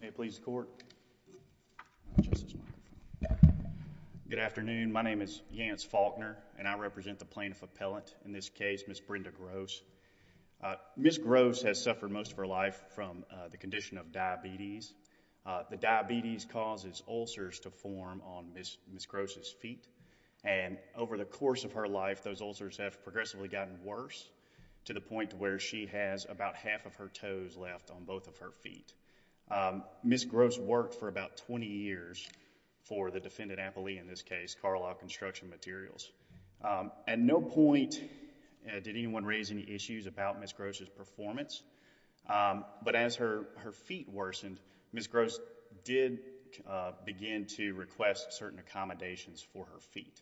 May it please the court. Good afternoon. My name is Yance Faulkner and I represent the plaintiff appellant in this case, Ms. Brenda Gross. Ms. Gross has suffered most of her life from the condition of diabetes. The diabetes causes ulcers to form on Ms. Gross' feet and over the course of her life those ulcers have progressively gotten worse to the point where she has about half of her toes left on both of her feet. Ms. Gross worked for about 20 years for the defendant appellee in this case, Carlisle Construction Materials. At no point did anyone raise any issues about Ms. Gross' performance, but as her feet worsened, Ms. Gross did begin to request certain accommodations for her feet.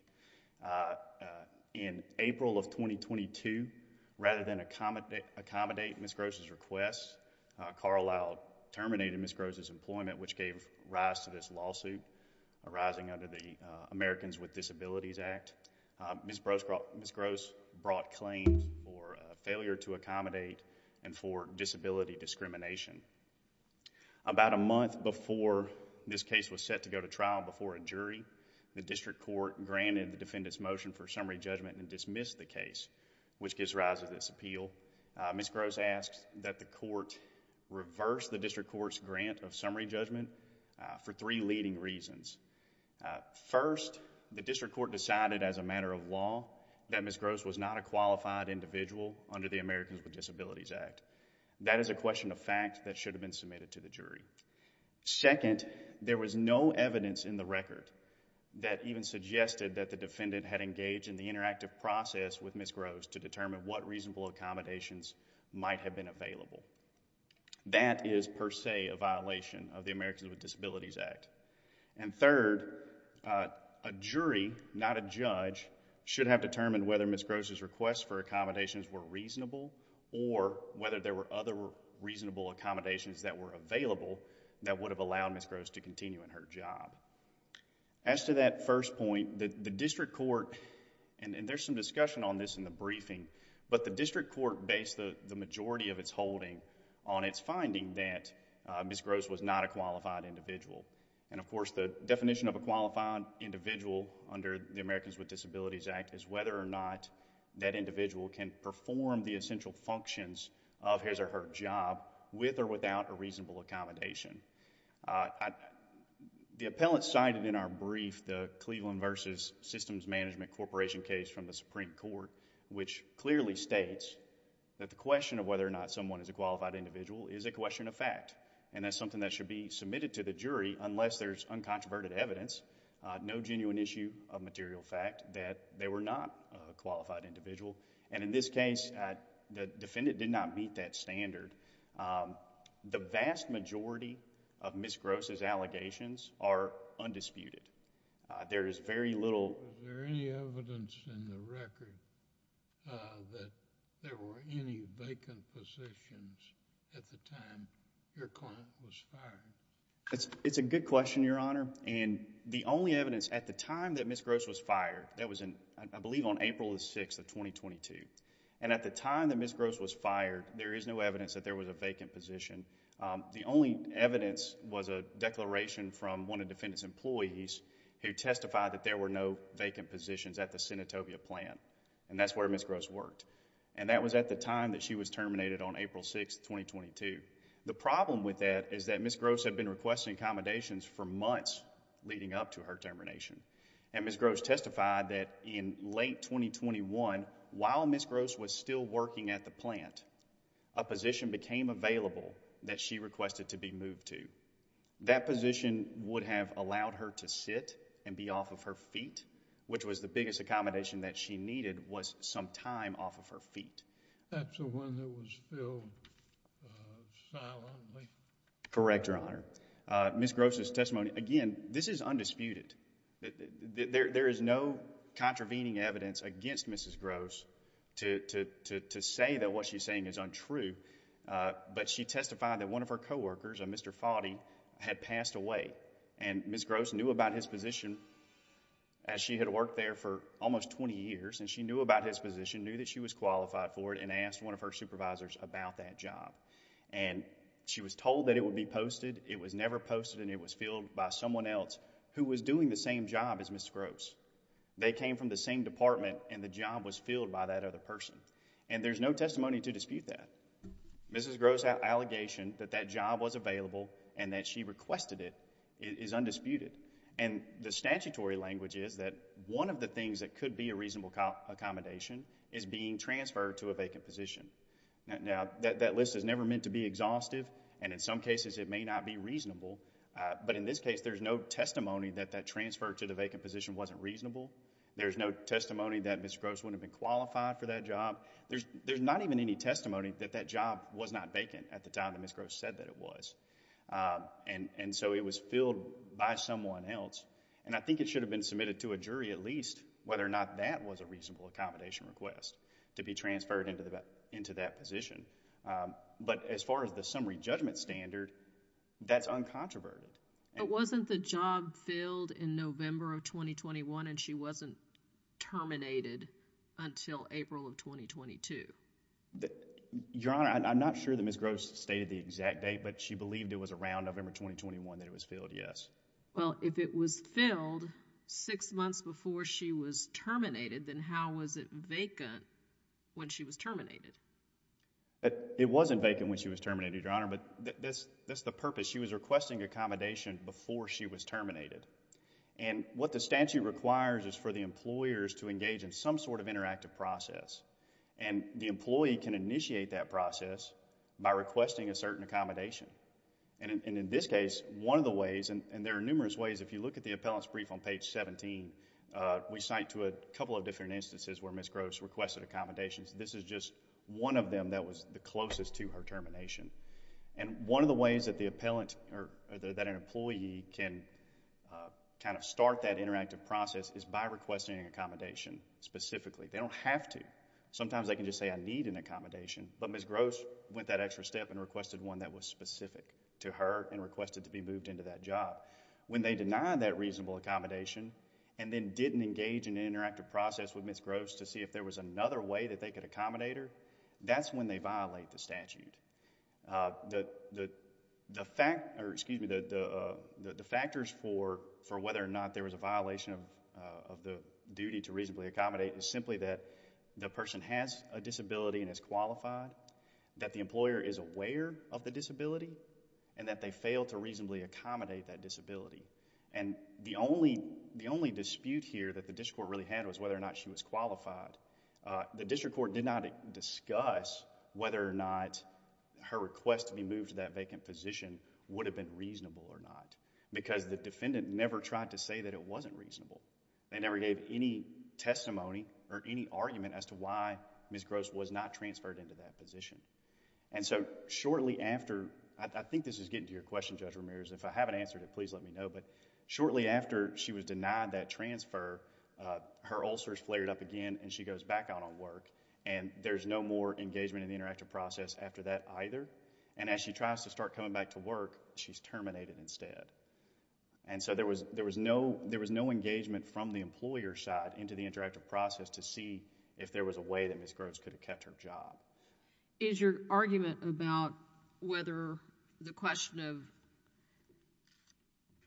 In April of 2022, rather than accommodate Ms. Gross' request, Carlisle terminated Ms. Gross' employment which gave rise to this lawsuit arising under the Americans with Disabilities Act. Ms. Gross brought claims for failure to accommodate and for disability discrimination. About a month before this case was set to go to trial before a jury, the district court granted the defendant's motion for summary judgment and dismissed the case which gives rise to this appeal. Ms. Gross asked that the court reverse the district court's grant of summary judgment for three leading reasons. First, the district court decided as a matter of law that Ms. Gross was not a qualified individual under the Americans with Disabilities Act. That is a question of fact that should have been submitted to the jury. Second, there was no evidence in the record that even suggested that the defendant had engaged in the interactive process with Ms. Gross to determine what reasonable accommodations might have been available. That is per se a violation of the Americans with Disabilities Act. Third, a jury, not a judge, should have determined whether Ms. Gross' request for accommodations were reasonable or whether there were other reasonable accommodations that were available that would have allowed Ms. Gross to continue in her job. As to that first point, the district court, and there's some discussion on this in the briefing, but the district court based the majority of its holding on its finding that Ms. Gross was not a qualified individual. Of course, the definition of a qualified individual under the Americans with Disabilities Act is whether or not that individual can perform the essential functions of his or her job with or without a reasonable accommodation. The appellant cited in our brief the Cleveland v. Systems Management Corporation case from the Supreme Court, which clearly states that the question of whether or not someone is a qualified individual is a question of fact, and that's something that should be submitted to the jury unless there's uncontroverted evidence, no genuine issue of material fact that they were not a qualified individual. In this case, the defendant did not meet that standard. The vast majority of Ms. Gross' allegations are undisputed. There is very little... It's a good question, Your Honor, and the only evidence at the time that Ms. Gross was fired, that was in, I believe, on April the 6th of 2022, and at the time that Ms. Gross was fired, there is no evidence that there was a vacant position. The only evidence was a declaration from one of the defendant's employees who testified that there were no vacant positions at the Senatovia plant, and that's where Ms. Gross worked, and that was at the time that she was terminated on April 6th, 2022. The problem with that is that Ms. Gross had been requesting accommodations for months leading up to her termination, and Ms. Gross testified that in late 2021, while Ms. Gross was still working at the plant, a position became available that she requested to be moved to. That position would have allowed her to sit and be off of her feet, which was the biggest time off of her feet. That's the one that was filled silently? Correct, Your Honor. Ms. Gross' testimony... Again, this is undisputed. There is no contravening evidence against Ms. Gross to say that what she's saying is untrue, but she testified that one of her coworkers, a Mr. Foddy, had passed away, and Ms. Gross knew about his position as she had worked there for almost 20 years, and she knew about his position, knew that she was qualified for it, and asked one of her supervisors about that job. She was told that it would be posted. It was never posted, and it was filled by someone else who was doing the same job as Ms. Gross. They came from the same department, and the job was filled by that other person, and there's no testimony to dispute that. Ms. Gross' allegation that that job was available and that she requested it is undisputed. The statutory language is that one of the things that could be a reasonable accommodation is being transferred to a vacant position. That list is never meant to be exhaustive, and in some cases, it may not be reasonable, but in this case, there's no testimony that that transfer to the vacant position wasn't reasonable. There's no testimony that Ms. Gross wouldn't have been qualified for that job. There's not even any testimony that that job was not vacant at the time that Ms. Gross said that it was, and so it was filled by someone else, and I think it should have been submitted to a jury, at least, whether or not that was a reasonable accommodation request to be transferred into that position, but as far as the summary judgment standard, that's uncontroverted. But wasn't the job filled in November of 2021, and she wasn't terminated until April of 2022? Your Honor, I'm not sure that Ms. Gross stated the exact date, but she believed it was around November 2021 that it was filled, yes. Well, if it was filled six months before she was terminated, then how was it vacant when she was terminated? It wasn't vacant when she was terminated, Your Honor, but that's the purpose. She was requesting accommodation before she was terminated, and what the statute requires is for the employers to engage in some sort of interactive process, and the employee can initiate that process by requesting a certain accommodation, and in this case, one of the ways, and there are numerous ways, if you look at the appellant's brief on page 17, we cite to a couple of different instances where Ms. Gross requested accommodations. This is just one of them that was the closest to her termination, and one of the ways that the appellant, or that an employee can kind of start that interactive process is by requesting accommodation specifically. They don't have to. Sometimes they can just say, I need an accommodation, but Ms. Gross went that extra step and requested one that was specific to her and requested to be moved into that job. When they deny that reasonable accommodation and then didn't engage in an interactive process with Ms. Gross to see if there was another way that they could accommodate her, that's when they violate the statute. The factors for whether or not there was a violation of the duty to reasonably accommodate is simply that the person has a disability and is qualified, that the employer is aware of the disability, and that they failed to reasonably accommodate that disability, and the only dispute here that the district court really had was whether or not she was qualified. The district court did not discuss whether or not her request to be moved to that vacant position would have been reasonable or not, because the defendant never tried to say that it wasn't reasonable. They never gave any testimony or any argument as to why Ms. Gross was not transferred into that position. Shortly after, I think this is getting to your question, Judge Ramirez, if I haven't answered it, please let me know, but shortly after she was denied that transfer, her ulcers flared up again, and she goes back out on work, and there's no more engagement in the interactive process after that either, and as she tries to start coming back to work, she's terminated instead, and so there was no engagement from the employer's side into the interactive process to see if there was a way that Ms. Gross could have kept her job. Is your argument about whether the question of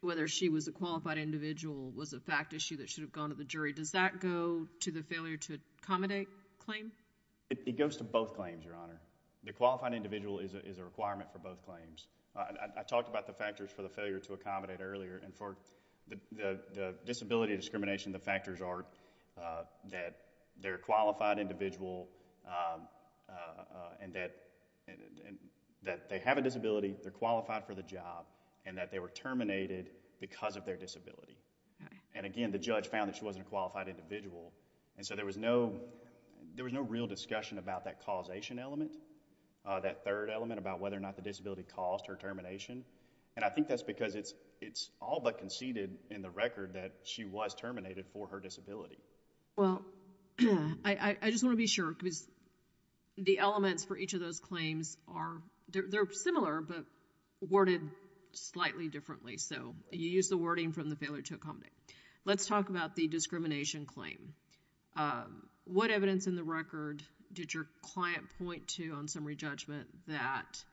whether she was a qualified individual was a fact issue that should have gone to the jury, does that go to the failure to accommodate claim? It goes to both claims, Your Honor. The qualified individual is a requirement for both claims. I talked about the factors for the failure to accommodate earlier, and for the disability discrimination, the factors are that they're a qualified individual, and that they have a disability, they're qualified for the job, and that they were terminated because of their disability, and again, the judge found that she wasn't a qualified individual, and so there was no real discussion about that causation element, that third element about whether or not the disability caused her termination, and I think that's because it's all but conceded in the record that she was terminated for her disability. Well, I just want to be sure, because the elements for each of those claims are, they're similar, but worded slightly differently, so you use the wording from the failure to Let's talk about the discrimination claim. What evidence in the record did your client point to on summary judgment that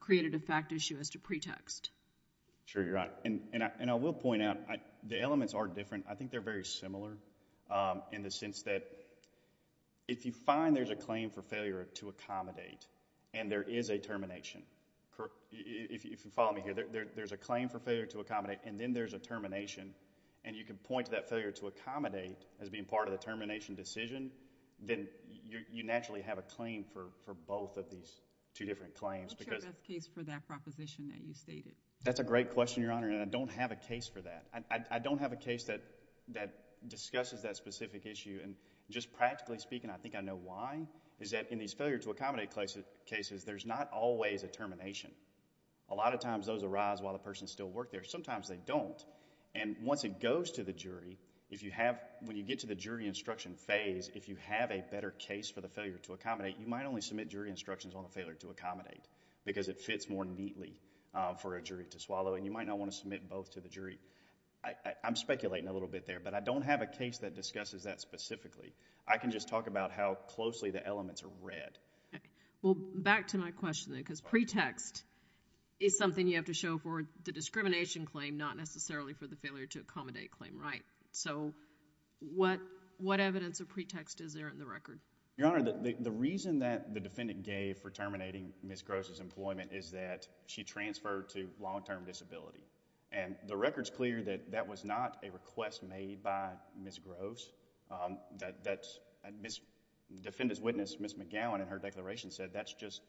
created a fact issue as to pretext? Sure, Your Honor, and I will point out, the elements are different. I think they're very similar in the sense that if you find there's a claim for failure to accommodate, and there is a termination, if you follow me here, there's a claim for failure to accommodate, and then there's a termination, and you can point to that failure to accommodate as being part of the termination decision, then you naturally have a claim for both of these two different claims. What's your best case for that proposition that you stated? That's a great question, Your Honor, and I don't have a case for that. I don't have a case that discusses that specific issue, and just practically speaking, I think I know why, is that in these failure to accommodate cases, there's not always a termination. A lot of times, those arise while the person still worked there. Sometimes they don't, and once it goes to the jury, when you get to the jury instruction phase, if you have a better case for the failure to accommodate, you might only submit jury instructions on the failure to accommodate, because it fits more neatly for a jury to swallow, and you might not want to submit both to the jury. I'm speculating a little bit there, but I don't have a case that discusses that specifically. I can just talk about how closely the elements are read. Well, back to my question, then, because pretext is something you have to show for the discrimination claim, not necessarily for the failure to accommodate claim right, so what evidence of pretext is there in the record? Your Honor, the reason that the defendant gave for terminating Ms. Gross's employment is that she transferred to long-term disability, and the record's clear that that was not a request made by Ms. Gross. Defendant's witness, Ms. McGowan, in her declaration said that's just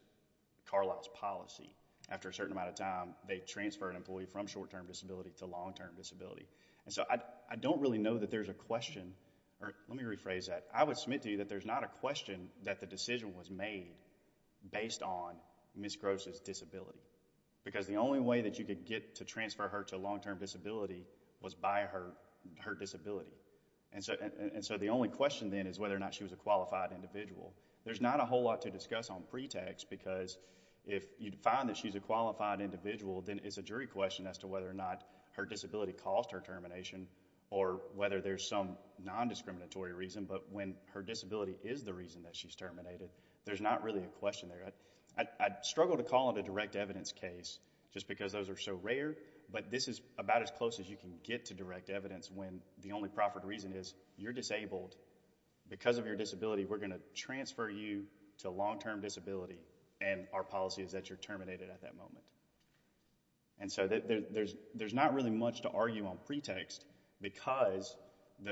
Carlisle's policy. After a certain amount of time, they transferred an employee from short-term disability to long-term disability. I don't really know that there's a question, or let me rephrase that. I would submit to you that there's not a question that the decision was made based on Ms. Gross's disability, because the only way that you could get to transfer her to long-term disability was by her disability. The only question, then, is whether or not she was a qualified individual. There's not a whole lot to discuss on pretext, because if you find that she's a qualified individual, then it's a jury question as to whether or not her disability caused her termination, or whether there's some non-discriminatory reason, but when her disability is the reason that she's terminated, there's not really a question there. I'd struggle to call it a direct evidence case, just because those are so rare, but this is about as close as you can get to direct evidence, when the only proper reason is, you're disabled. Because of your disability, we're going to transfer you to long-term disability, and our policy is that you're terminated at that moment. There's not really much to argue on pretext, because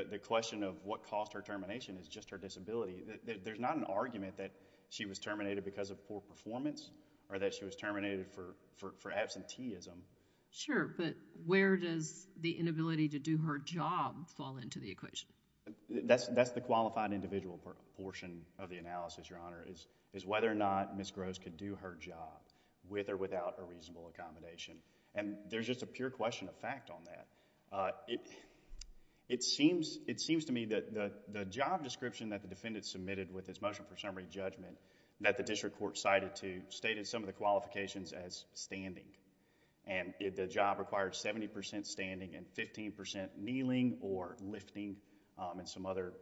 the question of what caused her termination is just her disability. There's not an argument that she was terminated because of poor performance, or that she was terminated for absenteeism. Sure, but where does the inability to do her job fall into the equation? That's the qualified individual portion of the analysis, Your Honor, is whether or not Ms. Gross could do her job, with or without a reasonable accommodation. And there's just a pure question of fact on that. It seems to me that the job description that the defendant submitted with his motion for summary judgment, that the district court cited to, stated some of the qualifications as standing. And if the job required 70% standing and 15% kneeling or lifting, and some other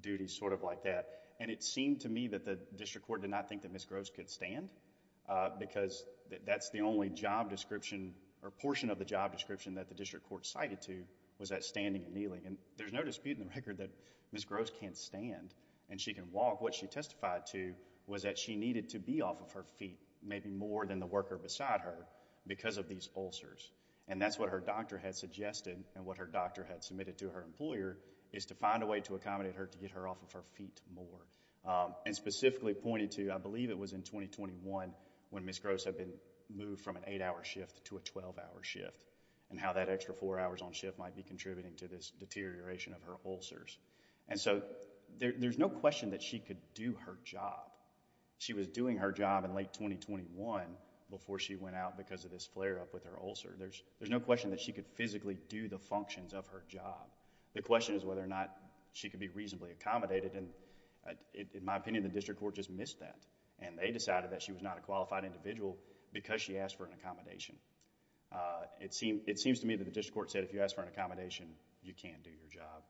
duties sort of like that, and it seemed to me that the district court did not think that Ms. Gross could stand, because that's the only job description, or portion of the job description that the district court cited to, was that standing and kneeling, and there's no dispute in the record that Ms. Gross can't stand, and she can walk. What she testified to was that she needed to be off of her feet, maybe more than the worker beside her, because of these ulcers. And that's what her doctor had suggested, and what her doctor had submitted to her employer, is to find a way to accommodate her to get her off of her feet more. And specifically pointed to, I believe it was in 2021, when Ms. Gross had been moved from an eight-hour shift to a 12-hour shift, and how that extra four hours on shift might be contributing to this deterioration of her ulcers. And so, there's no question that she could do her job. She was doing her job in late 2021, before she went out because of this flare-up with her ulcer. There's no question that she could physically do the functions of her job. The question is whether or not she could be reasonably accommodated, and in my opinion, the district court just missed that, and they decided that she was not a qualified individual, because she asked for an accommodation. It seems to me that the district court said, if you ask for an accommodation, you can't do your job.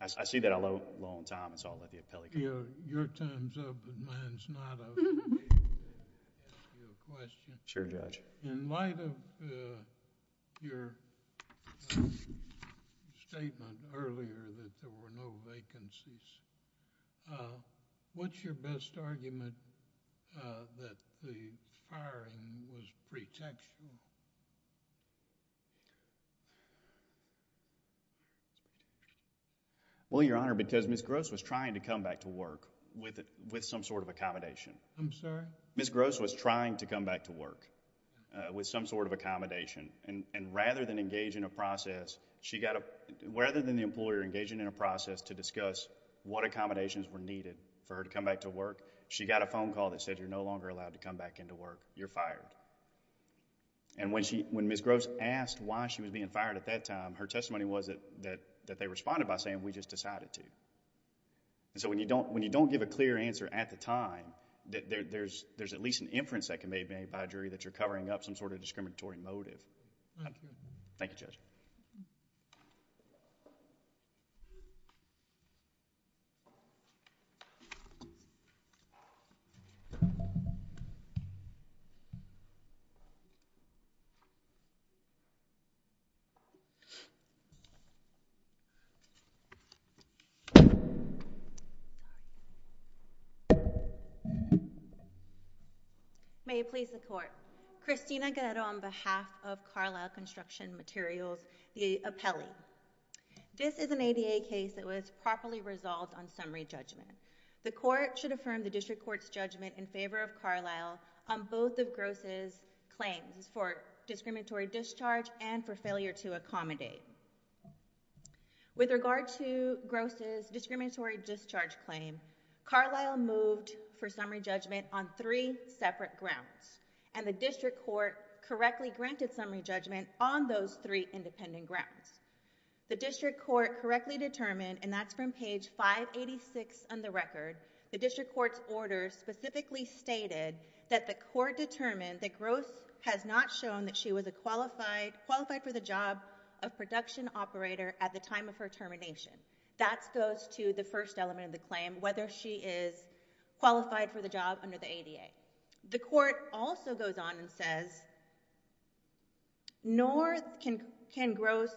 I see that I'm low on time, so I'll let the appellee continue. Your time's up, and mine's not up. Let me ask you a question. Sure, Judge. In light of your statement earlier, that there were no vacancies, what's your best argument that the firing was pretextual? Well, Your Honor, because Ms. Gross was trying to come back to work with some sort of accommodation. I'm sorry? Ms. Gross was trying to come back to work with some sort of accommodation, and rather than engage in a process, she got a, rather than the employer engaging in a process to discuss what accommodations were needed for her to come back to work, she got a phone And when Ms. Gross asked why she was being fired at that time, her testimony was that they responded by saying, we just decided to. So when you don't give a clear answer at the time, there's at least an inference that can be made by a jury that you're covering up some sort of discriminatory motive. Thank you, Judge. May it please the Court, Christina Guero on behalf of Carlisle Construction Materials the appellee. This is an ADA case that was properly resolved on summary judgment. The Court should affirm the District Court's judgment in favor of Carlisle on both of Gross's claims for discriminatory discharge and for failure to accommodate. With regard to Gross's discriminatory discharge claim, Carlisle moved for summary judgment on three separate grounds, and the District Court correctly granted summary judgment on those three independent grounds. The District Court correctly determined, and that's from page 586 on the record, the District Court's order specifically stated that the Court determined that Gross has not shown that she was a qualified for the job of production operator at the time of her termination. That goes to the first element of the claim, whether she is qualified for the job under the ADA. The Court also goes on and says, nor can Gross,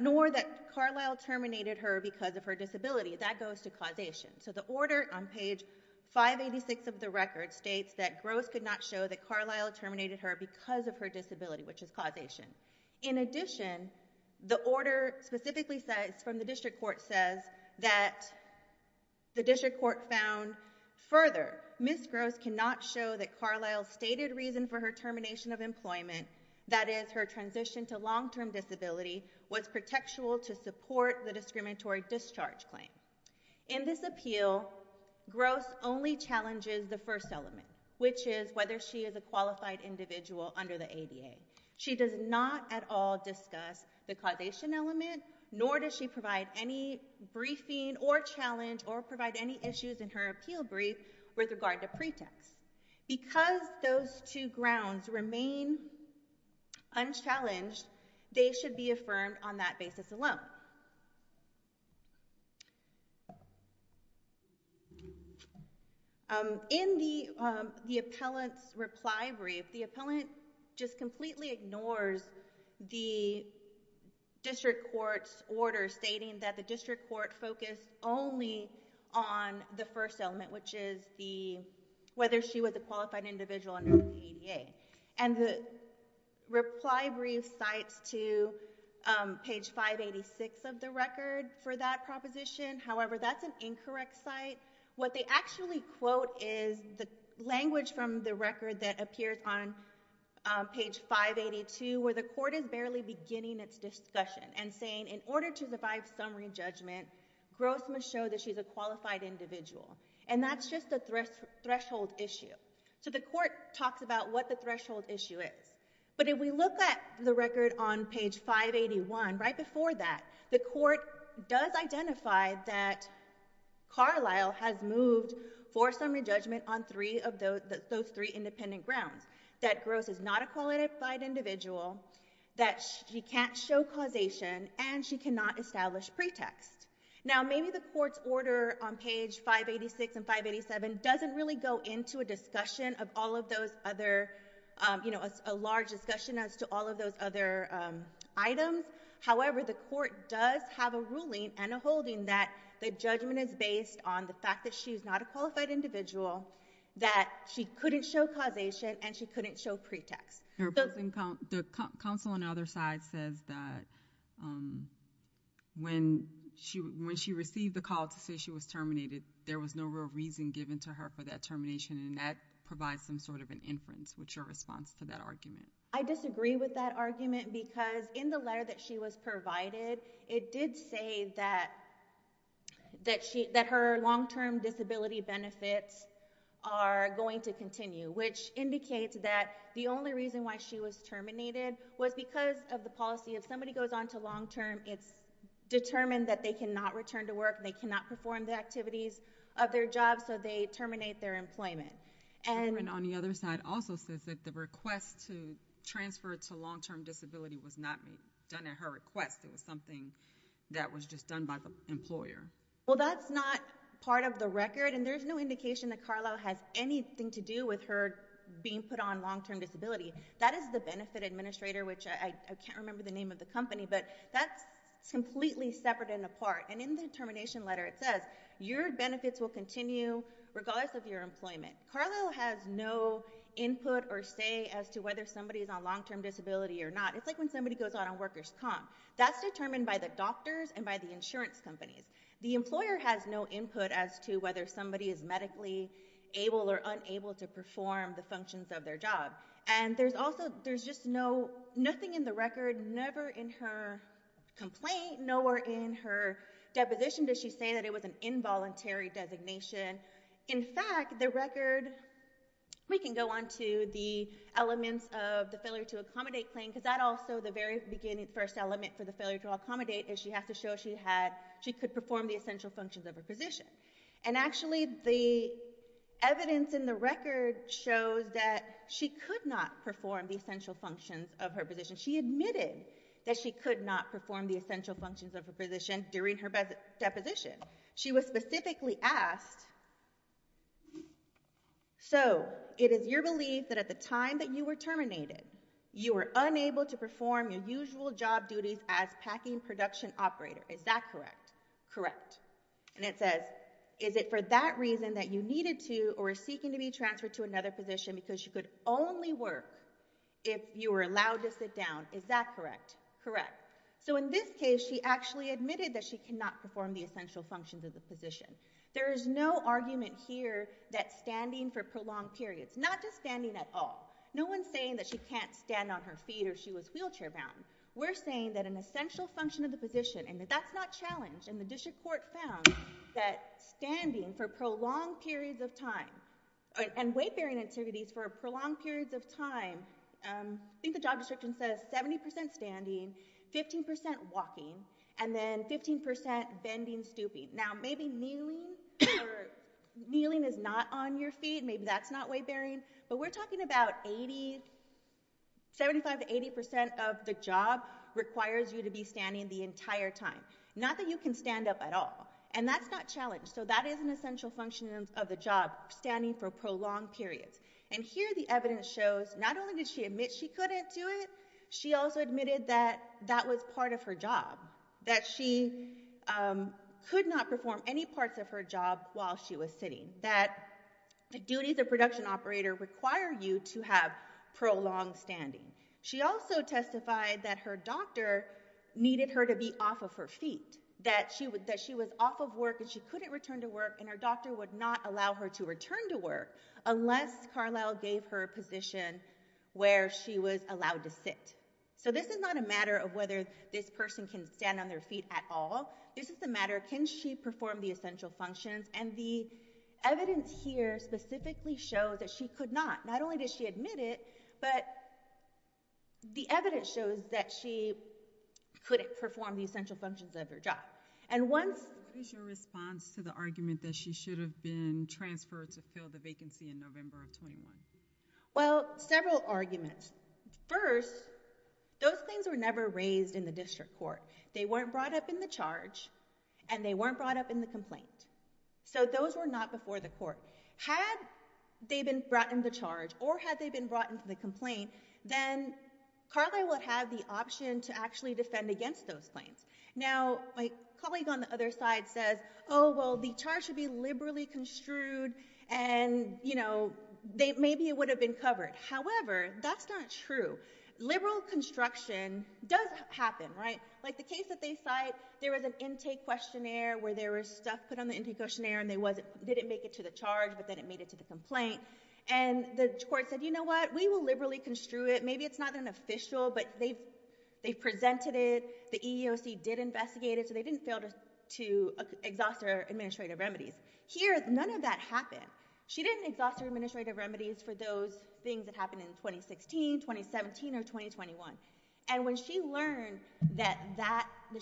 nor that Carlisle terminated her because of her disability. That goes to causation. So the order on page 586 of the record states that Gross could not show that Carlisle terminated her because of her disability, which is causation. In addition, the order specifically says, from the District Court says, that the District Court states that Gross cannot show that Carlisle's stated reason for her termination of employment, that is, her transition to long-term disability, was protectual to support the discriminatory discharge claim. In this appeal, Gross only challenges the first element, which is whether she is a qualified individual under the ADA. She does not at all discuss the causation element, nor does she provide any briefing or challenge or provide any issues in her appeal brief with regard to pretext. Because those two grounds remain unchallenged, they should be affirmed on that basis alone. In the appellant's reply brief, the appellant just completely ignores the District Court's order stating that the District Court focused only on the first element, which is whether she was a qualified individual under the ADA. And the reply brief cites to page 586 of the record for that proposition, however, that's an incorrect cite. What they actually quote is the language from the record that appears on page 582, where the court is barely beginning its discussion and saying, in order to survive summary judgment, Gross must show that she's a qualified individual. And that's just a threshold issue. So the court talks about what the threshold issue is. But if we look at the record on page 581, right before that, the court does identify that Carlisle has moved for summary judgment on those three independent grounds, that Gross is not a qualified individual, that she can't show causation, and she cannot establish pretext. Now maybe the court's order on page 586 and 587 doesn't really go into a discussion of all of those other, you know, a large discussion as to all of those other items. However, the court does have a ruling and a holding that the judgment is based on the fact that she is not a qualified individual, that she couldn't show causation, and she couldn't show pretext. The counsel on the other side says that when she received the call to say she was terminated, there was no real reason given to her for that termination, and that provides some sort of an inference. What's your response to that argument? I disagree with that argument because in the letter that she was provided, it did say that her long-term disability benefits are going to continue, which indicates that the only reason why she was terminated was because of the policy, if somebody goes on to long-term, it's determined that they cannot return to work, and they cannot perform the activities of their job, so they terminate their employment. And on the other side also says that the request to transfer to long-term disability was not done at her request. It was something that was just done by the employer. Well, that's not part of the record, and there's no indication that Carlisle has anything to do with her being put on long-term disability. That is the benefit administrator, which I can't remember the name of the company, but that's completely separate and apart, and in the termination letter it says, your benefits will continue regardless of your employment. Carlisle has no input or say as to whether somebody is on long-term disability or not. It's like when somebody goes on a workers' comp. That's determined by the doctors and by the insurance companies. The employer has no input as to whether somebody is medically able or unable to perform the functions of their job. And there's also, there's just no, nothing in the record, never in her complaint, nowhere in her deposition does she say that it was an involuntary designation. In fact, the record, we can go on to the elements of the failure to accommodate claim, because that also, the very beginning, first element for the failure to accommodate is she has to show she had, she could perform the essential functions of her position. And actually, the evidence in the record shows that she could not perform the essential functions of her position. She admitted that she could not perform the essential functions of her position during her deposition. She was specifically asked, so, it is your belief that at the time that you were terminated, you were unable to perform your usual job duties as packing production operator, is that correct? And it says, is it for that reason that you needed to or were seeking to be transferred to another position because you could only work if you were allowed to sit down, is that correct? Correct. So, in this case, she actually admitted that she could not perform the essential functions of the position. There is no argument here that standing for prolonged periods, not just standing at all, no one is saying that she can't stand on her feet or she was wheelchair bound. We're saying that an essential function of the position, and that's not challenged, and the district court found that standing for prolonged periods of time, and weight bearing activities for prolonged periods of time, I think the job description says 70% standing, 15% walking, and then 15% bending, stooping. Now, maybe kneeling or kneeling is not on your feet, maybe that's not weight bearing, but we're talking about 80, 75 to 80% of the job requires you to be standing the entire time. Not that you can stand up at all, and that's not challenged, so that is an essential function of the job, standing for prolonged periods. And here the evidence shows, not only did she admit she couldn't do it, she also admitted that that was part of her job, that she could not perform any parts of her job while she was sitting, that the duties of production operator require you to have prolonged standing. She also testified that her doctor needed her to be off of her feet, that she was off of work and she couldn't return to work, and her doctor would not allow her to return to work unless Carlisle gave her a position where she was allowed to sit. So this is not a matter of whether this person can stand on their feet at all, this is the matter, can she perform the essential functions, and the evidence here specifically shows that she could not. Not only does she admit it, but the evidence shows that she couldn't perform the essential functions of her job. And once- What is your response to the argument that she should have been transferred to fill the vacancy in November of 21? Well, several arguments. First, those claims were never raised in the district court. They weren't brought up in the charge, and they weren't brought up in the complaint. So those were not before the court. Had they been brought in the charge, or had they been brought in for the complaint, then Carlyle would have the option to actually defend against those claims. Now, my colleague on the other side says, oh, well, the charge should be liberally construed and, you know, maybe it would have been covered. However, that's not true. Liberal construction does happen, right? Like the case that they cite, there was an intake questionnaire where there was stuff put on the intake questionnaire, and they didn't make it to the charge, but then it made it to the complaint. And the court said, you know what, we will liberally construe it. Maybe it's not an official, but they presented it, the EEOC did investigate it, so they didn't fail to exhaust their administrative remedies. Here none of that happened. She didn't exhaust her administrative remedies for those things that happened in 2016, 2017, or 2021. And when she learned that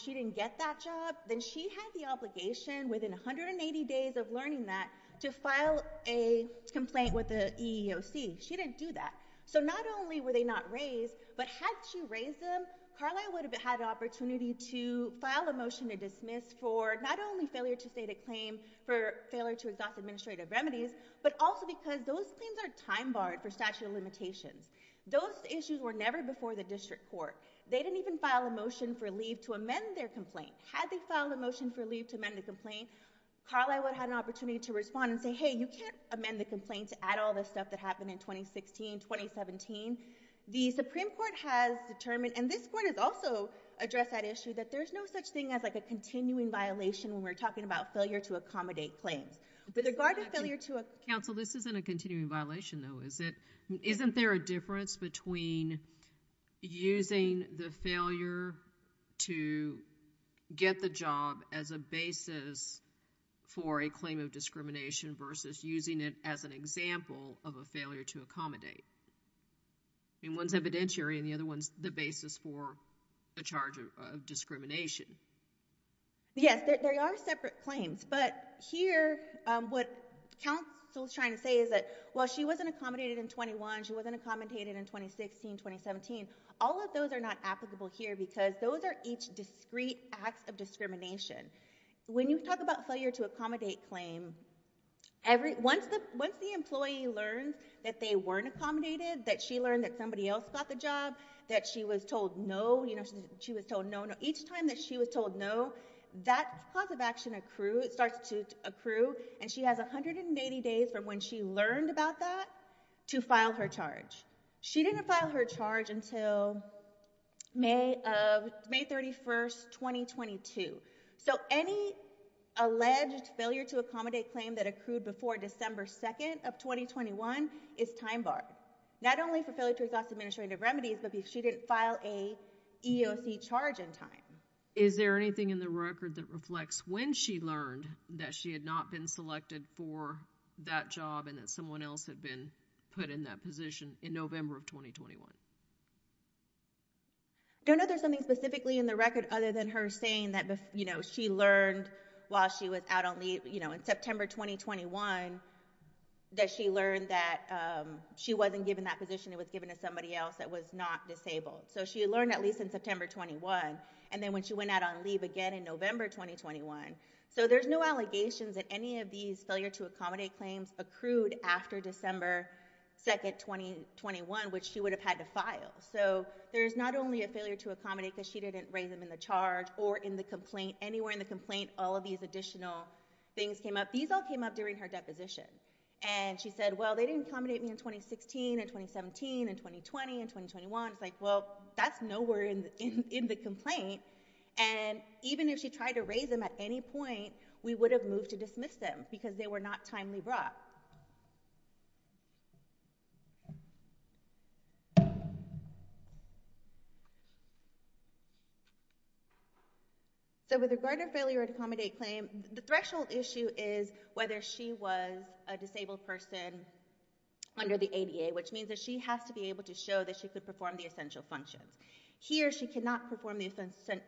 she didn't get that job, then she had the obligation, within 180 days of learning that, to file a complaint with the EEOC. She didn't do that. So not only were they not raised, but had she raised them, Carlyle would have had the opportunity to file a motion to dismiss for not only failure to state a claim for failure to exhaust administrative remedies, but also because those claims are time-barred for statute of limitations. Those issues were never before the district court. They didn't even file a motion for leave to amend their complaint. Had they filed a motion for leave to amend a complaint, Carlyle would have had an opportunity to respond and say, hey, you can't amend the complaint to add all the stuff that happened in 2016, 2017. The Supreme Court has determined, and this court has also addressed that issue, that there's no such thing as a continuing violation when we're talking about failure to accommodate claims. With regard to failure to... Is there a difference between using the failure to get the job as a basis for a claim of discrimination versus using it as an example of a failure to accommodate? I mean, one's evidentiary, and the other one's the basis for a charge of discrimination. Yes, there are separate claims. But here, what counsel's trying to say is that, well, she wasn't accommodated in 21. She wasn't accommodated in 2016, 2017. All of those are not applicable here because those are each discrete acts of discrimination. When you talk about failure to accommodate claim, once the employee learns that they weren't accommodated, that she learned that somebody else got the job, that she was told no, you know, she was told no, no, each time that she was told no, that cause of action accrues, starts to accrue, and she has 180 days from when she learned about that to file her charge. She didn't file her charge until May 31st, 2022. So any alleged failure to accommodate claim that accrued before December 2nd of 2021 is time barred, not only for failure to exhaust administrative remedies, but because she didn't file a EEOC charge in time. Is there anything in the record that reflects when she learned that she had not been selected for that job and that someone else had been put in that position in November of 2021? I don't know if there's something specifically in the record other than her saying that, you know, she learned while she was out on leave, you know, in September 2021, that she learned that she wasn't given that position. It was given to somebody else that was not disabled. So she learned at least in September 21, and then when she went out on leave again in November 2021. So there's no allegations that any of these failure to accommodate claims accrued after December 2nd, 2021, which she would have had to file. So there's not only a failure to accommodate because she didn't raise them in the charge or in the complaint, anywhere in the complaint, all of these additional things came up. These all came up during her deposition. And she said, well, they didn't accommodate me in 2016 and 2017 and 2020 and 2021. It's like, well, that's nowhere in the complaint. And even if she tried to raise them at any point, we would have moved to dismiss them because they were not timely brought. So with regard to failure to accommodate claim, the threshold issue is whether she was a disabled person under the ADA, which means that she has to be able to show that she could perform the essential functions. Here, she cannot perform the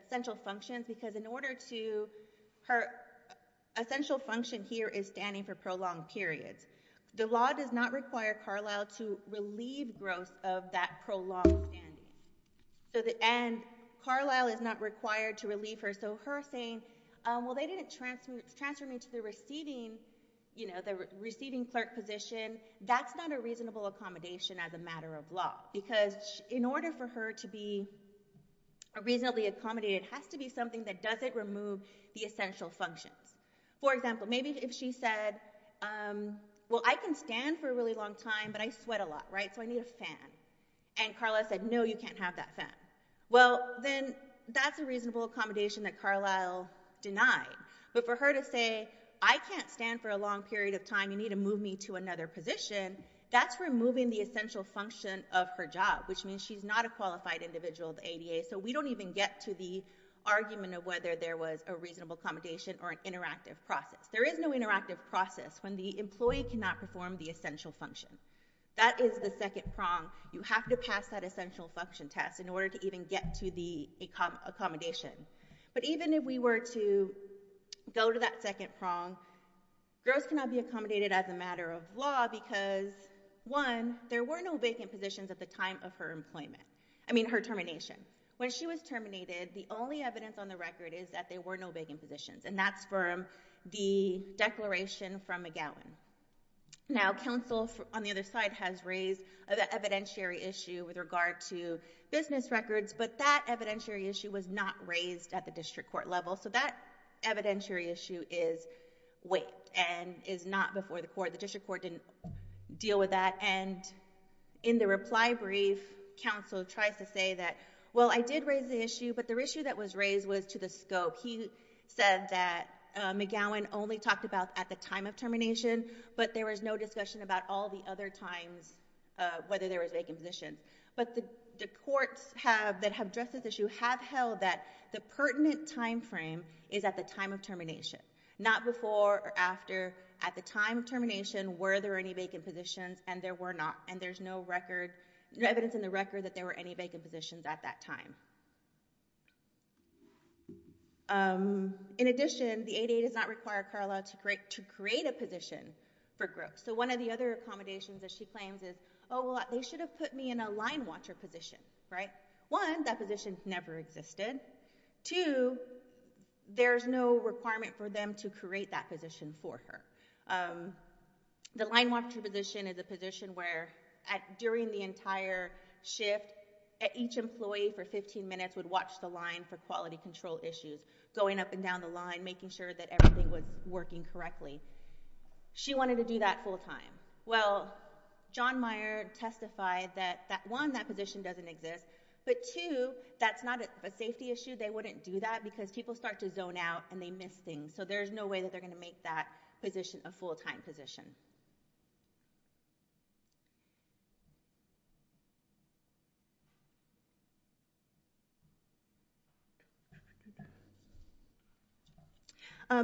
essential functions because in order to, her essential function here is standing for prolonged periods. The law does not require Carlisle to relieve gross of that prolonged standing. And Carlisle is not required to relieve her. So her saying, well, they didn't transfer me to the receiving, you know, the receiving clerk position, that's not a reasonable accommodation as a matter of law. Because in order for her to be reasonably accommodated, it has to be something that doesn't remove the essential functions. For example, maybe if she said, well, I can stand for a really long time, but I sweat a lot, right? So I need a fan. And Carlisle said, no, you can't have that fan. Well, then that's a reasonable accommodation that Carlisle denied. But for her to say, I can't stand for a long period of time, you need to move me to another position, that's removing the essential function of her job, which means she's not a qualified individual of the ADA. So we don't even get to the argument of whether there was a reasonable accommodation or an interactive process. There is no interactive process when the employee cannot perform the essential function. That is the second prong. You have to pass that essential function test in order to even get to the accommodation. But even if we were to go to that second prong, gross cannot be accommodated as a matter of law because, one, there were no vacant positions at the time of her termination. When she was terminated, the only evidence on the record is that there were no vacant positions, and that's from the declaration from McGowan. Now, counsel on the other side has raised the evidentiary issue with regard to business records, but that evidentiary issue was not raised at the district court level, so that evidentiary issue is waived and is not before the court. The district court didn't deal with that, and in the reply brief, counsel tries to say that, well, I did raise the issue, but the issue that was raised was to the scope. He said that McGowan only talked about at the time of termination, but there was no discussion about all the other times, whether there was vacant positions. But the courts that have addressed this issue have held that the pertinent timeframe is at the time of termination. Not before or after. At the time of termination, were there any vacant positions? And there were not. And there's no record, no evidence in the record that there were any vacant positions at that time. In addition, the 8-8 does not require Carla to create a position for growth. So one of the other accommodations that she claims is, oh, well, they should have put me in a line watcher position, right? One, that position never existed. Two, there's no requirement for them to create that position for her. The line watcher position is a position where during the entire shift, each employee for 15 minutes would watch the line for quality control issues, going up and down the line, making sure that everything was working correctly. She wanted to do that full time. Well, John Meyer testified that, one, that position doesn't exist, but two, that's not a safety issue. They wouldn't do that because people start to zone out and they miss things. So there's no way that they're going to make that position a full-time position.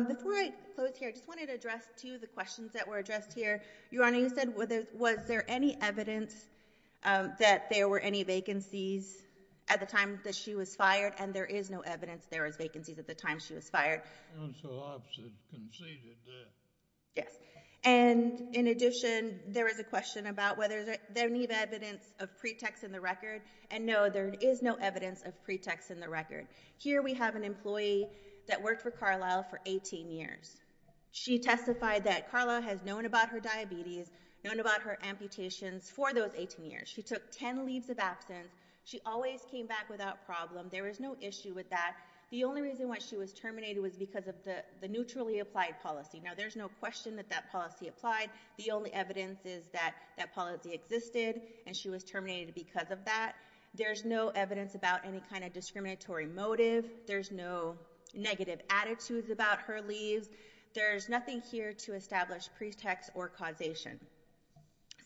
Before I close here, I just wanted to address two of the questions that were addressed here. Your Honor, you said, was there any evidence that there were any vacancies at the time that she was fired and there is no evidence there was vacancies at the time she was fired? Counsel opposite conceded that. Yes. And in addition, there is a question about whether there is any evidence of pretext in the record. And no, there is no evidence of pretext in the record. Here we have an employee that worked for Carlisle for 18 years. She testified that Carlisle has known about her diabetes, known about her amputations for those 18 years. She took 10 leaves of absence. She always came back without problem. There was no issue with that. The only reason why she was terminated was because of the neutrally applied policy. Now, there's no question that that policy applied. The only evidence is that that policy existed and she was terminated because of that. There's no evidence about any kind of discriminatory motive. There's no negative attitudes about her leaves. There's nothing here to establish pretext or causation.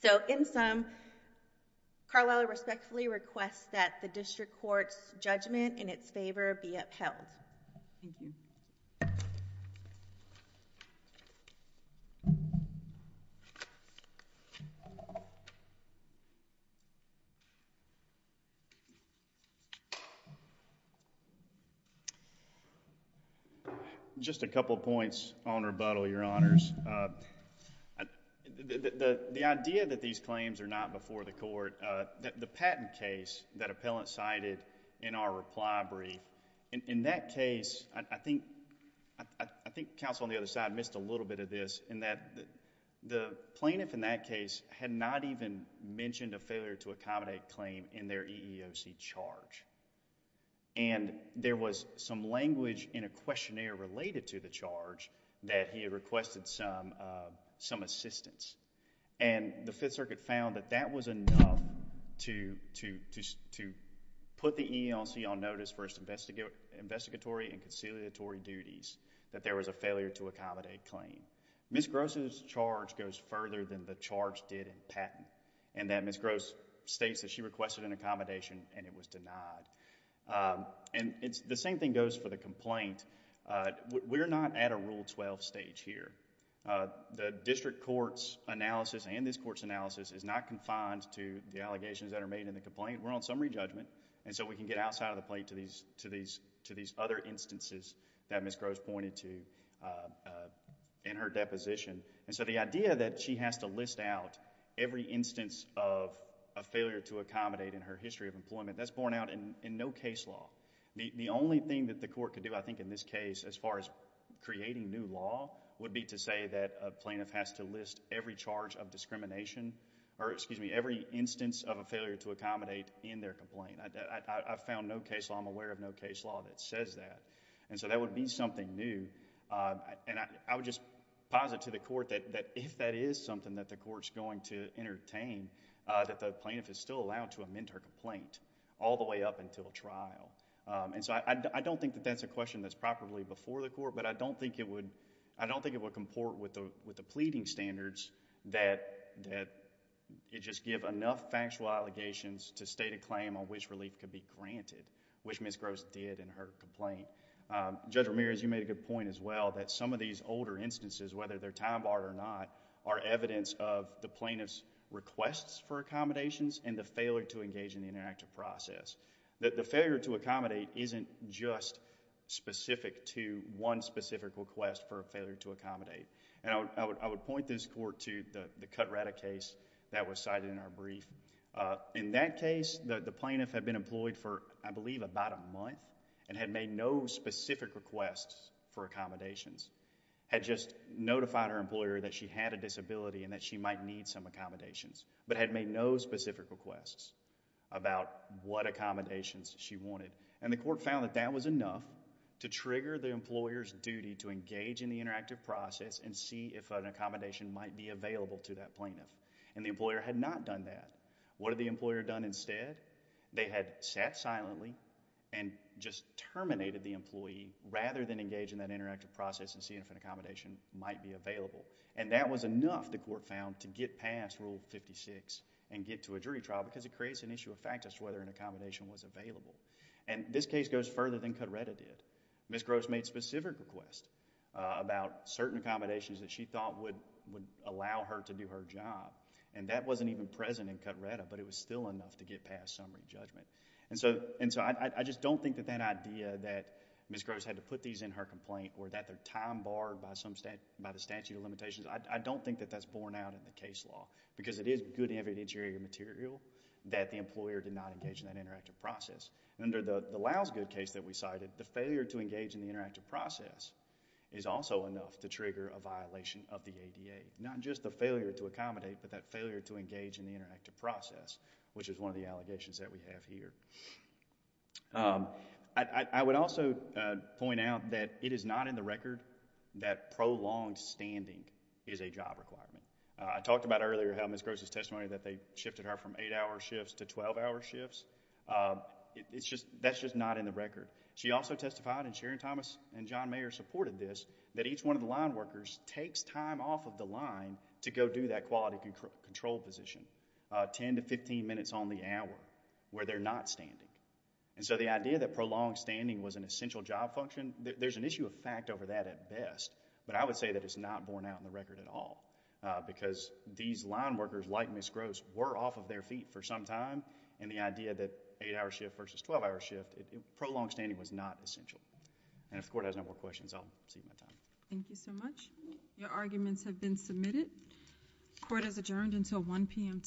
So, in sum, Carlisle respectfully requests that the district court's judgment in its favor be upheld. Thank you. Just a couple points on rebuttal, Your Honors. The idea that these claims are not before the court, the patent case that appellant cited in our reply brief, in that case, I think counsel on the other side missed a little bit of this in that the plaintiff in that case had not even mentioned a failure to accommodate claim in their EEOC charge. There was some language in a questionnaire related to the charge that he requested some assistance and the Fifth Circuit found that that was enough to put the EEOC on notice for its investigatory and conciliatory duties that there was a failure to accommodate claim. Ms. Gross' charge goes further than the charge did in patent and that Ms. Gross states that she requested an accommodation and it was denied. The same thing goes for the complaint. We're not at a Rule 12 stage here. The district court's analysis and this court's analysis is not confined to the allegations that are made in the complaint. We're on summary judgment and so we can get outside of the plaintiff to these other instances that Ms. Gross pointed to in her deposition. The idea that she has to list out every instance of a failure to accommodate in her history of employment, that's borne out in no case law. The only thing that the court could do I think in this case as far as creating new law would be to say that a plaintiff has to list every charge of discrimination or excuse me, every instance of a failure to accommodate in their complaint. I found no case law, I'm aware of no case law that says that. That would be something new. I would just posit to the court that if that is something that the court's going to entertain, that the plaintiff is still allowed to amend her complaint all the way up until trial. I don't think that that's a question that's properly before the court, but I don't think it would comport with the pleading standards that you just give enough factual allegations to state a claim on which relief could be granted, which Ms. Gross did in her complaint. Judge Ramirez, you made a good point as well that some of these older instances, whether they're time barred or not, are evidence of the plaintiff's requests for accommodations and the failure to engage in the interactive process. The failure to accommodate isn't just specific to one specific request for a failure to accommodate. I would point this court to the Cut Radicase that was cited in our brief. In that case, the plaintiff had been employed for I believe about a month and had made no specific requests for accommodations. Had just notified her employer that she had a disability and that she might need some accommodations, but had made no specific requests about what accommodations she wanted. The court found that that was enough to trigger the employer's duty to engage in the interactive process and see if an accommodation might be available to that plaintiff. The employer had not done that. What had the employer done instead? They had sat silently and just terminated the employee rather than engage in that interactive process and see if an accommodation might be available. That was enough, the court found, to get past Rule 56 and get to a jury trial because it creates an issue of factors whether an accommodation was available. This case goes further than Cut Reda did. Ms. Gross made specific requests about certain accommodations that she thought would allow her to do her job. That wasn't even present in Cut Reda, but it was still enough to get past summary judgment. I just don't think that that idea that Ms. Gross had to put these in her complaint or that they're time barred by the statute of limitations, I don't think that that's borne out in the case law because it is good evidentiary material that the employer did not engage in that interactive process. Under the Lousegood case that we cited, the failure to engage in the interactive process is also enough to trigger a violation of the ADA, not just the failure to accommodate, but that failure to engage in the interactive process, which is one of the allegations that we have here. I would also point out that it is not in the record that prolonged standing is a job requirement. I talked about earlier how Ms. Gross' testimony that they shifted her from eight-hour shifts to 12-hour shifts. That's just not in the record. She also testified, and Sharon Thomas and John Mayer supported this, that each one of the line workers takes time off of the line to go do that quality control position, ten to fifteen minutes on the hour, where they're not standing. The idea that prolonged standing was an essential job function, there's an issue of fact over that at best, but I would say that it's not borne out in the record at all because these line workers, like Ms. Gross, were off of their feet for some time, and the idea that eight-hour shift versus 12-hour shift, prolonged standing was not essential. If the court has no more questions, I'll exceed my time. Thank you so much. Your arguments have been submitted. The court is adjourned until 1 p.m. tomorrow.